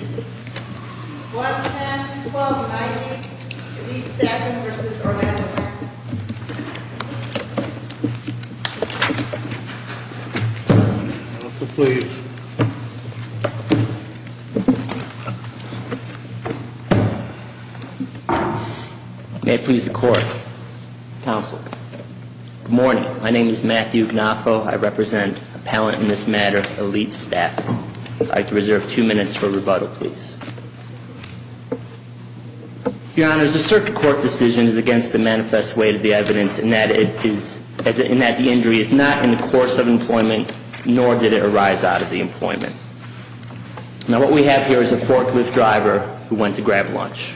110, 1290, Elite Staffing v. Organic Farming May it please the Court. Counsel. Good morning. My name is Matthew Gnafo. I represent appellant in this matter, Elite Staffing. I'd like to reserve two minutes for rebuttal, please. Your Honors, the circuit court decision is against the manifest way of the evidence in that the injury is not in the course of employment, nor did it arise out of the employment. Now, what we have here is a forklift driver who went to grab lunch.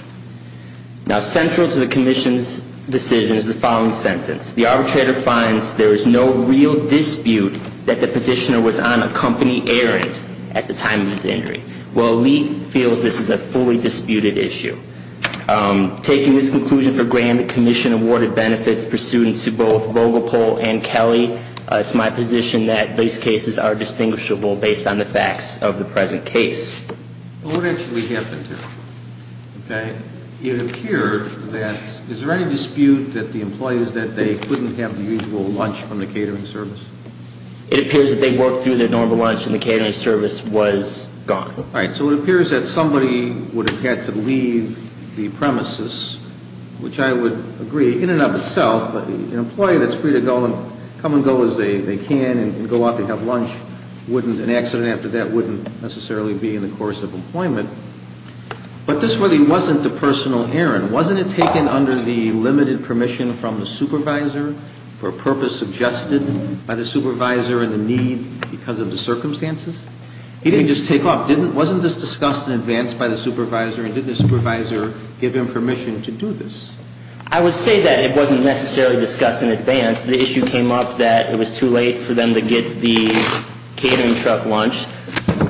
Now, central to the commission's decision is the following sentence. The arbitrator finds there is no real dispute that the petitioner was on a company errand at the time of his injury. Well, Elite feels this is a fully disputed issue. Taking this conclusion for granted, the commission awarded benefits pursuant to both Vogelpol and Kelly. It's my position that these cases are distinguishable based on the facts of the present case. Well, what actually happened here? Okay. It appeared that, is there any dispute that the employees that day couldn't have the usual lunch from the catering service? It appears that they worked through their normal lunch and the catering service was gone. All right, so it appears that somebody would have had to leave the premises, which I would agree, in and of itself, an employee that's free to go and come and go as they can and go out to have lunch, an accident after that wouldn't necessarily be in the course of employment. But this really wasn't a personal errand. Wasn't it taken under the limited permission from the supervisor for a purpose suggested by the supervisor and the need because of the circumstances? He didn't just take off. Wasn't this discussed in advance by the supervisor and did the supervisor give him permission to do this? I would say that it wasn't necessarily discussed in advance. The issue came up that it was too late for them to get the catering truck lunch.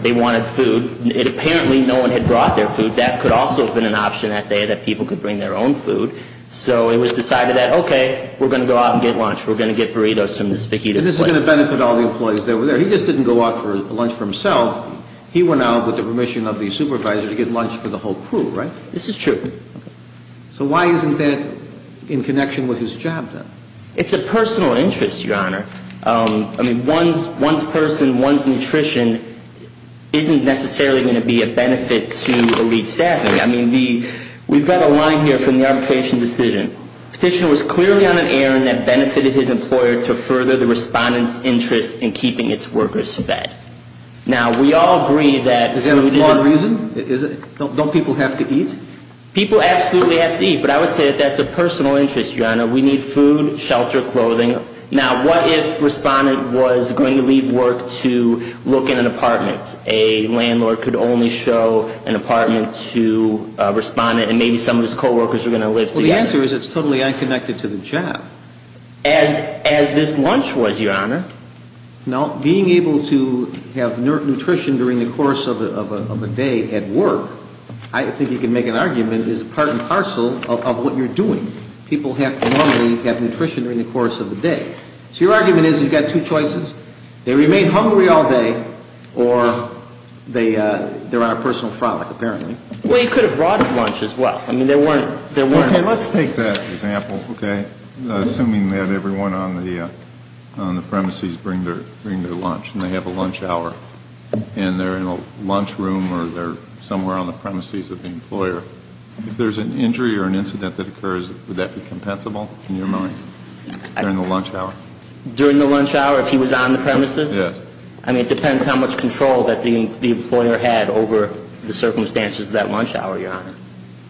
They wanted food. Apparently, no one had brought their food. That could also have been an option that day that people could bring their own food. So it was decided that, okay, we're going to go out and get lunch. We're going to get burritos from this fajita place. And this is going to benefit all the employees that were there. He just didn't go out for lunch for himself. He went out with the permission of the supervisor to get lunch for the whole crew, right? This is true. Okay. So why isn't that in connection with his job, then? It's a personal interest, Your Honor. I mean, one's person, one's nutrition isn't necessarily going to be a benefit to the lead staff. I mean, we've got a line here from the arbitration decision. Petitioner was clearly on an errand that benefited his employer to further the respondent's interest in keeping its workers fed. Now, we all agree that food isn't Is that a flawed reason? Don't people have to eat? People absolutely have to eat. But I would say that that's a personal interest, Your Honor. We need food, shelter, clothing. Now, what if a respondent was going to leave work to look in an apartment? A landlord could only show an apartment to a respondent, and maybe some of his co-workers were going to live there. Well, the answer is it's totally unconnected to the job. As this lunch was, Your Honor. Now, being able to have nutrition during the course of a day at work, I think you can make an argument, is part and parcel of what you're doing. People have to normally have nutrition during the course of the day. So your argument is you've got two choices. They remain hungry all day, or they're on a personal frolic, apparently. Well, you could have brought his lunch as well. I mean, there weren't. Okay, let's take that example, okay? Assuming that everyone on the premises bring their lunch, and they have a lunch hour. And they're in a lunch room or they're somewhere on the premises of the employer. If there's an injury or an incident that occurs, would that be compensable, in your mind, during the lunch hour? During the lunch hour, if he was on the premises? Yes. I mean, it depends how much control that the employer had over the circumstances of that lunch hour, Your Honor.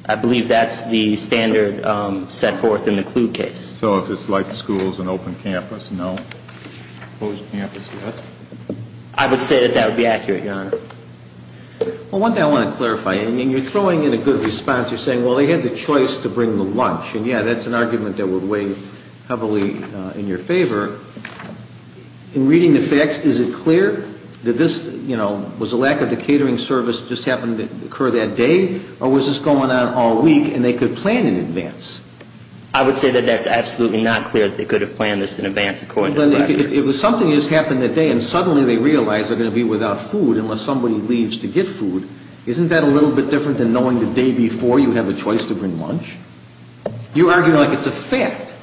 I believe that's the standard set forth in the Kluge case. So if it's like schools and open campus, no? Closed campus, yes? I would say that that would be accurate, Your Honor. Well, one thing I want to clarify, and you're throwing in a good response. You're saying, well, they had the choice to bring the lunch. And, yeah, that's an argument that would weigh heavily in your favor. In reading the facts, is it clear that this, you know, was a lack of the catering service just happened to occur that day? Or was this going on all week and they could plan in advance? I would say that that's absolutely not clear that they could have planned this in advance, according to the record. But if it was something that just happened that day and suddenly they realize they're going to be without food unless somebody leaves to get food, isn't that a little bit different than knowing the day before you have a choice to bring lunch? You're arguing like it's a fact.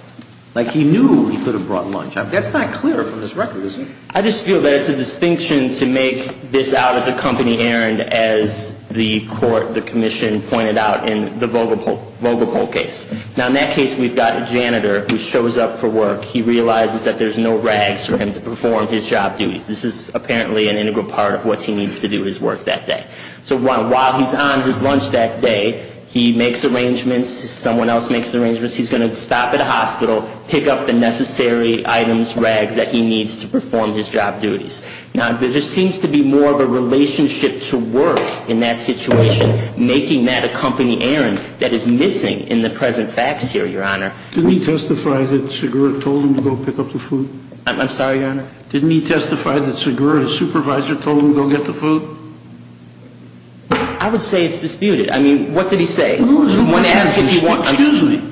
Like he knew he could have brought lunch. That's not clear from this record, is it? I just feel that it's a distinction to make this out as a company errand, as the court, the commission, pointed out in the Vogelpol case. Now, in that case, we've got a janitor who shows up for work. He realizes that there's no rags for him to perform his job duties. This is apparently an integral part of what he needs to do his work that day. So while he's on his lunch that day, he makes arrangements. Someone else makes the arrangements. He's going to stop at a hospital, pick up the necessary items, rags that he needs to perform his job duties. Now, there just seems to be more of a relationship to work in that situation, making that a company errand that is missing in the present facts here, Your Honor. Didn't he testify that Segura told him to go pick up the food? I'm sorry, Your Honor? Didn't he testify that Segura, his supervisor, told him to go get the food? I would say it's disputed. I mean, what did he say? Excuse me.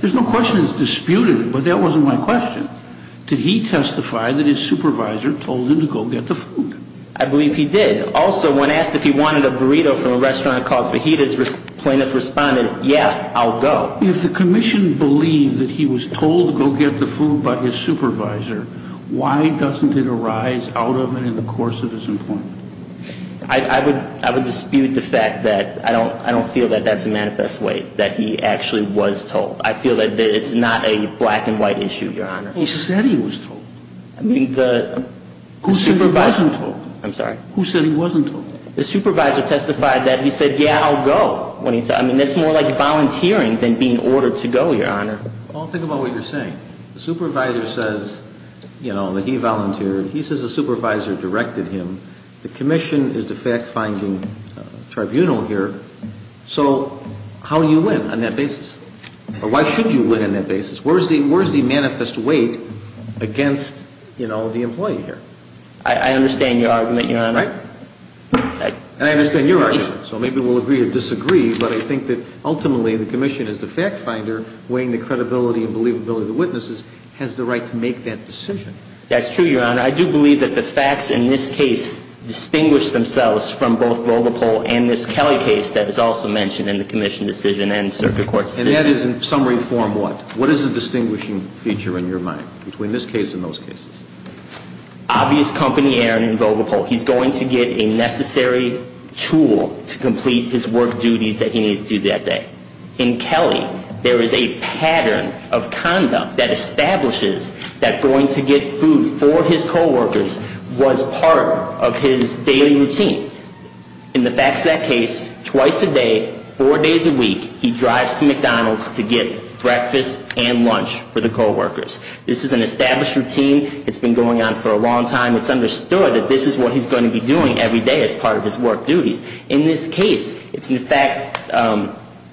There's no question it's disputed, but that wasn't my question. Did he testify that his supervisor told him to go get the food? I believe he did. Also, when asked if he wanted a burrito from a restaurant called Fajitas, plaintiff responded, yeah, I'll go. If the commission believed that he was told to go get the food by his supervisor, why doesn't it arise out of it in the course of his employment? I would dispute the fact that I don't feel that that's a manifest way that he actually was told. I feel that it's not a black and white issue, Your Honor. He said he was told. I mean, the supervisor. Who said he wasn't told? I'm sorry? Who said he wasn't told? The supervisor testified that he said, yeah, I'll go. I mean, that's more like volunteering than being ordered to go, Your Honor. Paul, think about what you're saying. The supervisor says, you know, that he volunteered. He says the supervisor directed him. The commission is the fact-finding tribunal here. So, how do you win on that basis? Or why should you win on that basis? Where's the manifest weight against, you know, the employee here? I understand your argument, Your Honor. Right? And I understand your argument. So maybe we'll agree or disagree, but I think that ultimately the commission is the fact-finder, weighing the credibility and believability of the witnesses, has the right to make that decision. That's true, Your Honor. I do believe that the facts in this case distinguish themselves from both Vogelpol and this Kelly case that is also mentioned in the commission decision and circuit court decision. And that is in summary form what? What is the distinguishing feature in your mind between this case and those cases? Obvious company, Aaron, in Vogelpol. He's going to get a necessary tool to complete his work duties that he needs to do that day. In Kelly, there is a pattern of conduct that establishes that going to get food for his coworkers was part of his daily routine. In the facts of that case, twice a day, four days a week, he drives to McDonald's to get breakfast and lunch for the coworkers. This is an established routine. It's been going on for a long time. It's understood that this is what he's going to be doing every day as part of his work duties. In this case, it's in fact,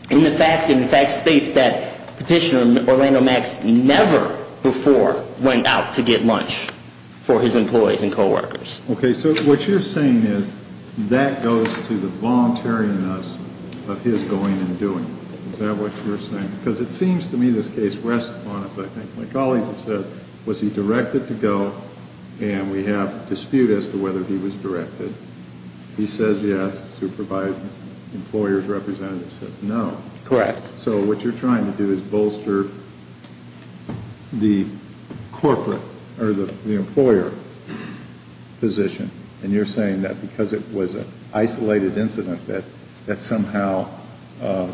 in the facts, it in fact states that Petitioner Orlando Max never before went out to get lunch for his employees and coworkers. Okay. So what you're saying is that goes to the voluntariness of his going and doing. Is that what you're saying? Because it seems to me this case rests upon, as I think my colleagues have said, was he directed to go? And we have dispute as to whether he was directed. He says yes. Supervisor, employer's representative says no. Correct. So what you're trying to do is bolster the corporate or the employer position. And you're saying that because it was an isolated incident that somehow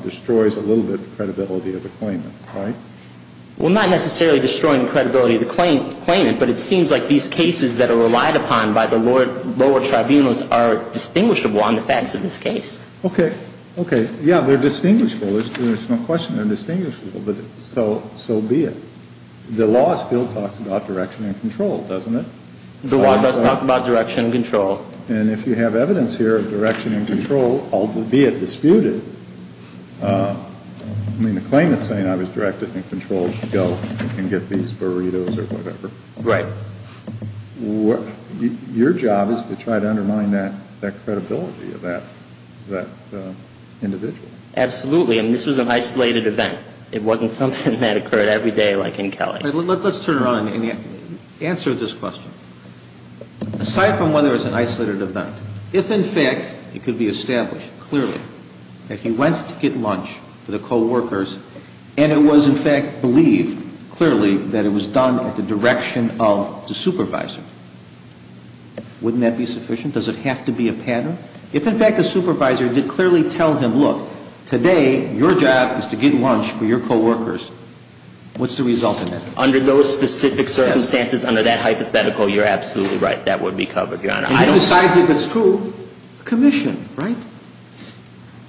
destroys a little bit the credibility of the claimant, right? Well, not necessarily destroying the credibility of the claimant, but it seems like these cases that are relied upon by the lower tribunals are distinguishable on the facts of this case. Okay. Okay. Yeah, they're distinguishable. There's no question they're distinguishable, but so be it. The law still talks about direction and control, doesn't it? The law does talk about direction and control. And if you have evidence here of direction and control, albeit disputed, I mean, the claimant's saying I was directed and controlled to go and get these burritos or whatever. Right. Your job is to try to undermine that credibility of that individual. Absolutely. I mean, this was an isolated event. It wasn't something that occurred every day like in Kelly. Let's turn around and answer this question. Aside from whether it was an isolated event, if in fact it could be established clearly that he went to get lunch for the coworkers and it was in fact believed clearly that it was done at the direction of the supervisor, wouldn't that be sufficient? Does it have to be a pattern? If in fact the supervisor did clearly tell him, look, today your job is to get lunch for your coworkers, what's the result in that? Under those specific circumstances, under that hypothetical, you're absolutely right. That would be covered, Your Honor. And who decides if it's true? Commission, right?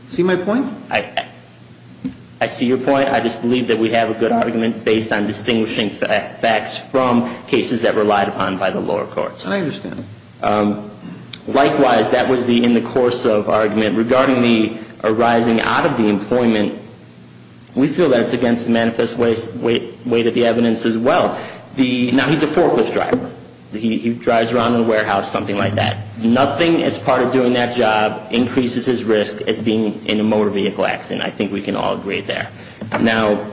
See my point? I see your point. I just believe that we have a good argument based on distinguishing facts from cases that relied upon by the lower courts. I understand. Likewise, that was the in the course of argument. Regarding the arising out of the employment, we feel that's against the manifest way that the evidence as well. Now, he's a forklift driver. He drives around in a warehouse, something like that. Nothing as part of doing that job increases his risk as being in a motor vehicle accident. I think we can all agree there. Now,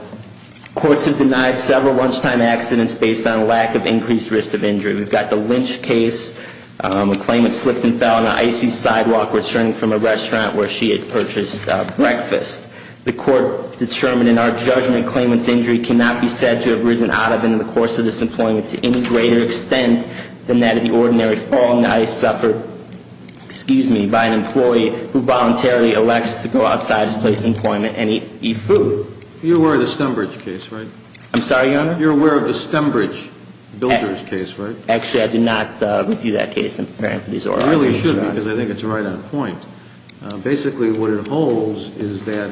courts have denied several lunchtime accidents based on lack of increased risk of injury. We've got the Lynch case, a claimant slipped and fell on an icy sidewalk returning from a restaurant where she had purchased breakfast. The court determined in our judgment the claimant's injury cannot be said to have risen out of it in the course of this employment to any greater extent than that of the ordinary fall in the ice suffered, excuse me, by an employee who voluntarily elects to go outside his place of employment and eat food. You're aware of the Stembridge case, right? I'm sorry, Your Honor? You're aware of the Stembridge builders case, right? Actually, I do not review that case. I'm preparing for these oral arguments, Your Honor. You really should because I think it's right on point. Basically, what it holds is that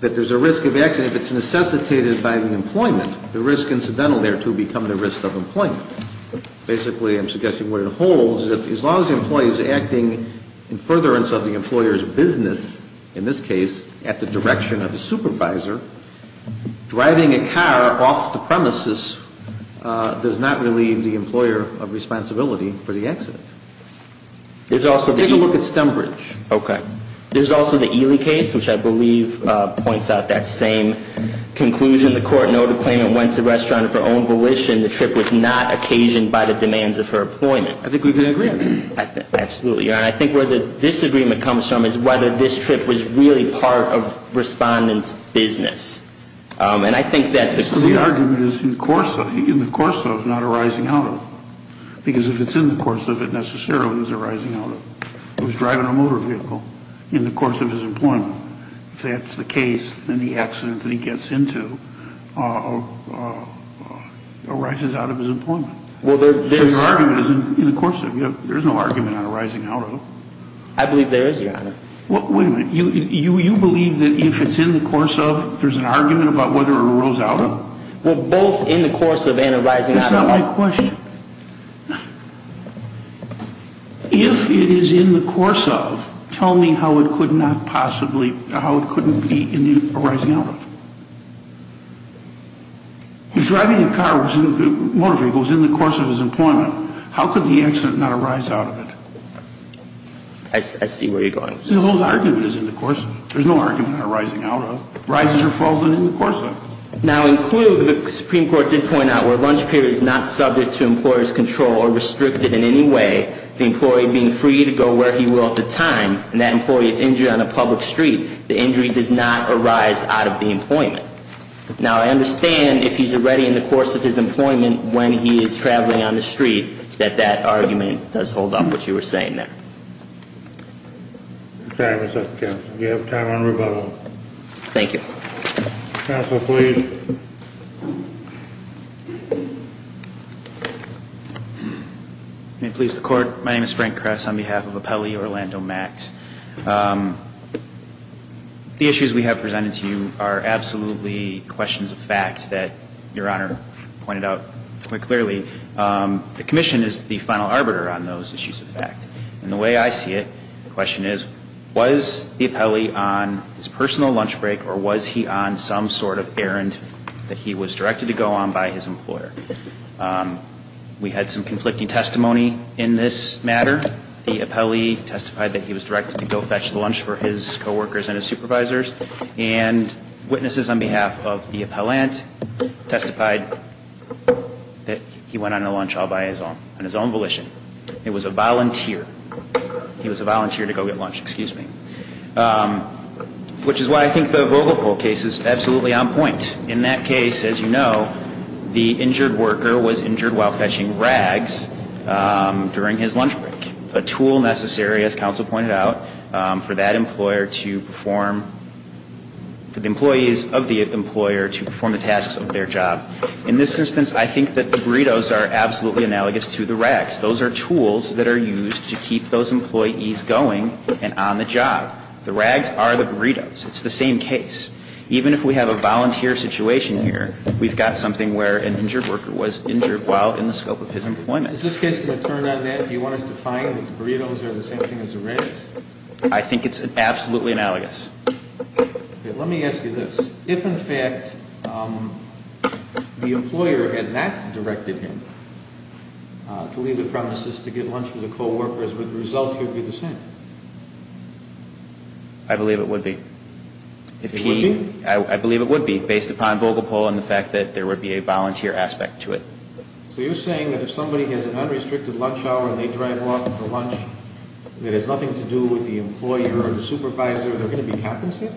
there's a risk of accident. If it's necessitated by the employment, the risk incidental thereto become the risk of employment. Basically, I'm suggesting what it holds is that as long as the employee is acting in furtherance of the employer's business, in this case, at the direction of the supervisor, driving a car off the premises does not relieve the employer of responsibility for the accident. Take a look at Stembridge. Okay. There's also the Ely case, which I believe points out that same conclusion. The court noted the claimant went to the restaurant of her own volition. The trip was not occasioned by the demands of her employment. I think we can agree on that. Absolutely, Your Honor. And I think where the disagreement comes from is whether this trip was really part of Respondent's business. And I think that the claimant... The argument is in the course of, not arising out of. Because if it's in the course of, it necessarily is arising out of. He was driving a motor vehicle in the course of his employment. If that's the case, then the accident that he gets into arises out of his employment. So your argument is in the course of. There's no argument on arising out of. I believe there is, Your Honor. Wait a minute. You believe that if it's in the course of, there's an argument about whether it arose out of? Well, both in the course of and arising out of. That's not my question. If it is in the course of, tell me how it could not possibly, how it couldn't be arising out of. If driving a car, a motor vehicle, is in the course of his employment, how could the accident not arise out of it? I see where you're going. The whole argument is in the course of. There's no argument on arising out of. Arises or falls in the course of. Now include, the Supreme Court did point out, where lunch period is not subject to employer's control or restricted in any way, the employee being free to go where he will at the time, and that employee is injured on a public street. The injury does not arise out of the employment. Now, I understand if he's already in the course of his employment when he is traveling on the street, that that argument does hold up what you were saying there. I'm sorry, Mr. Counselor. Do you have time on rebuttal? Thank you. Counsel, please. May it please the Court. My name is Frank Kress on behalf of Apelli Orlando Max. The issues we have presented to you are absolutely questions of fact that Your Honor pointed out quite clearly. The commission is the final arbiter on those issues of fact. And the way I see it, the question is, was the appellee on his personal lunch break or was he on some sort of errand that he was directed to go on by his employer? We had some conflicting testimony in this matter. The appellee testified that he was directed to go fetch lunch for his coworkers and his supervisors. And witnesses on behalf of the appellant testified that he went on a lunch all by his own, on his own volition. It was a volunteer. He was a volunteer to go get lunch. Excuse me. Which is why I think the Vogelpol case is absolutely on point. In that case, as you know, the injured worker was injured while fetching rags during his lunch break. A tool necessary, as counsel pointed out, for that employer to perform, for the employees of the employer to perform the tasks of their job. In this instance, I think that the burritos are absolutely analogous to the rags. Those are tools that are used to keep those employees going and on the job. The rags are the burritos. It's the same case. Even if we have a volunteer situation here, we've got something where an injured worker was injured while in the scope of his employment. Is this case going to turn on that? Do you want us to find that the burritos are the same thing as the rags? I think it's absolutely analogous. Okay. Let me ask you this. If, in fact, the employer had not directed him to leave the premises to get lunch for the coworkers, would the result here be the same? I believe it would be. It would be? I believe it would be, based upon Vogelpol and the fact that there would be a volunteer aspect to it. So you're saying that if somebody has an unrestricted lunch hour and they drive off for lunch and it has nothing to do with the employer or the supervisor, they're going to be happensite?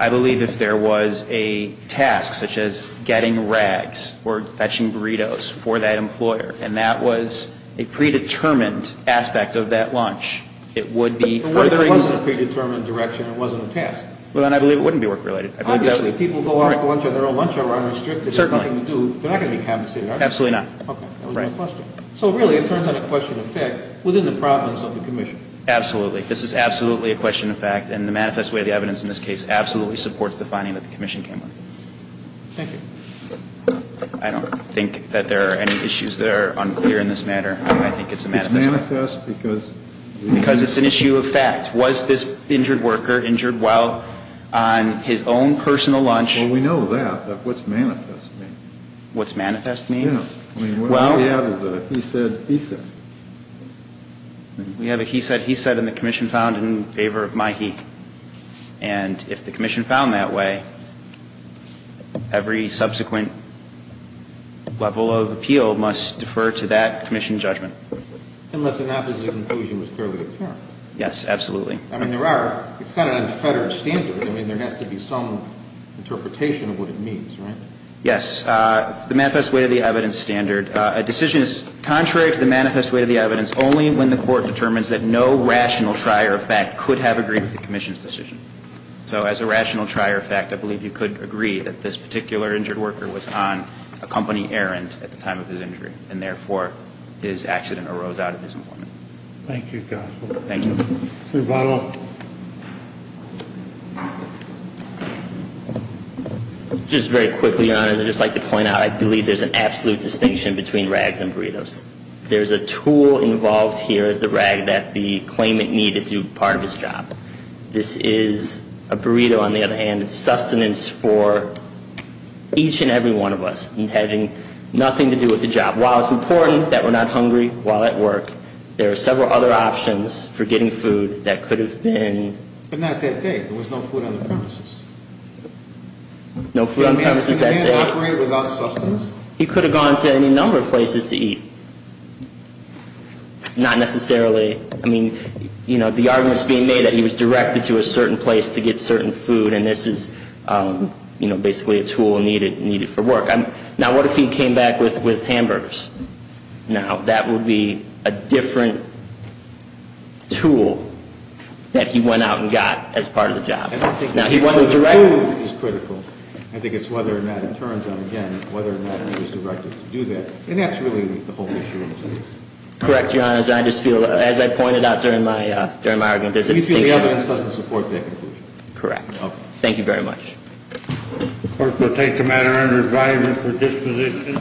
I believe if there was a task, such as getting rags or fetching burritos for that employer, and that was a predetermined aspect of that lunch, it would be furthering So it wasn't a predetermined direction. It wasn't a task. Well, then I believe it wouldn't be work-related. Obviously, if people go off to lunch on their own lunch hour unrestricted, with nothing to do, they're not going to be happensite, are they? Absolutely not. Okay. That was my question. So really, it turns on a question of fact within the province of the commission. Absolutely. This is absolutely a question of fact, and the manifest way of the evidence in this case absolutely supports the finding that the commission came up with. Thank you. I don't think that there are any issues that are unclear in this matter. I think it's a manifest fact. It's manifest because? Because it's an issue of fact. Was this injured worker injured while on his own personal lunch? Well, we know that. But what's manifest mean? What's manifest mean? Yeah. I mean, what we have is a he said, he said. We have a he said, he said, and the commission found in favor of my he. And if the commission found that way, every subsequent level of appeal must defer to that commission judgment. Unless an opposite conclusion was clearly determined. Yes, absolutely. I mean, there are. It's not an unfettered standard. I mean, there has to be some interpretation of what it means, right? Yes. The manifest way of the evidence standard. A decision is contrary to the manifest way of the evidence only when the court determines that no rational trier of fact could have agreed with the commission's decision. So as a rational trier of fact, I believe you could agree that this particular injured worker was on a company errand at the time of his injury, and therefore his accident arose out of his employment. Thank you, counsel. Thank you. Mr. Bonnell. Just very quickly, Your Honor, I'd just like to point out I believe there's an absolute distinction between rags and burritos. There's a tool involved here as the rag that the claimant needed to do part of his job. This is a burrito, on the other hand. It's sustenance for each and every one of us. And having nothing to do with the job. While it's important that we're not hungry while at work, there are several other options for getting food that could have been. But not that day. There was no food on the premises. No food on the premises that day. Could a man operate without sustenance? He could have gone to any number of places to eat. Not necessarily. I mean, you know, the argument is being made that he was directed to a certain place to get certain food, and this is, you know, basically a tool needed for work. Now, what if he came back with hamburgers? Now, that would be a different tool that he went out and got as part of the job. Now, he wasn't directed. I think it's whether or not in terms of, again, whether or not he was directed to do that. And that's really the whole issue. Correct, Your Honor. As I pointed out during my argument, there's a distinction. You feel the evidence doesn't support that conclusion? Correct. Thank you very much. The court will take the matter under advisory for disposition.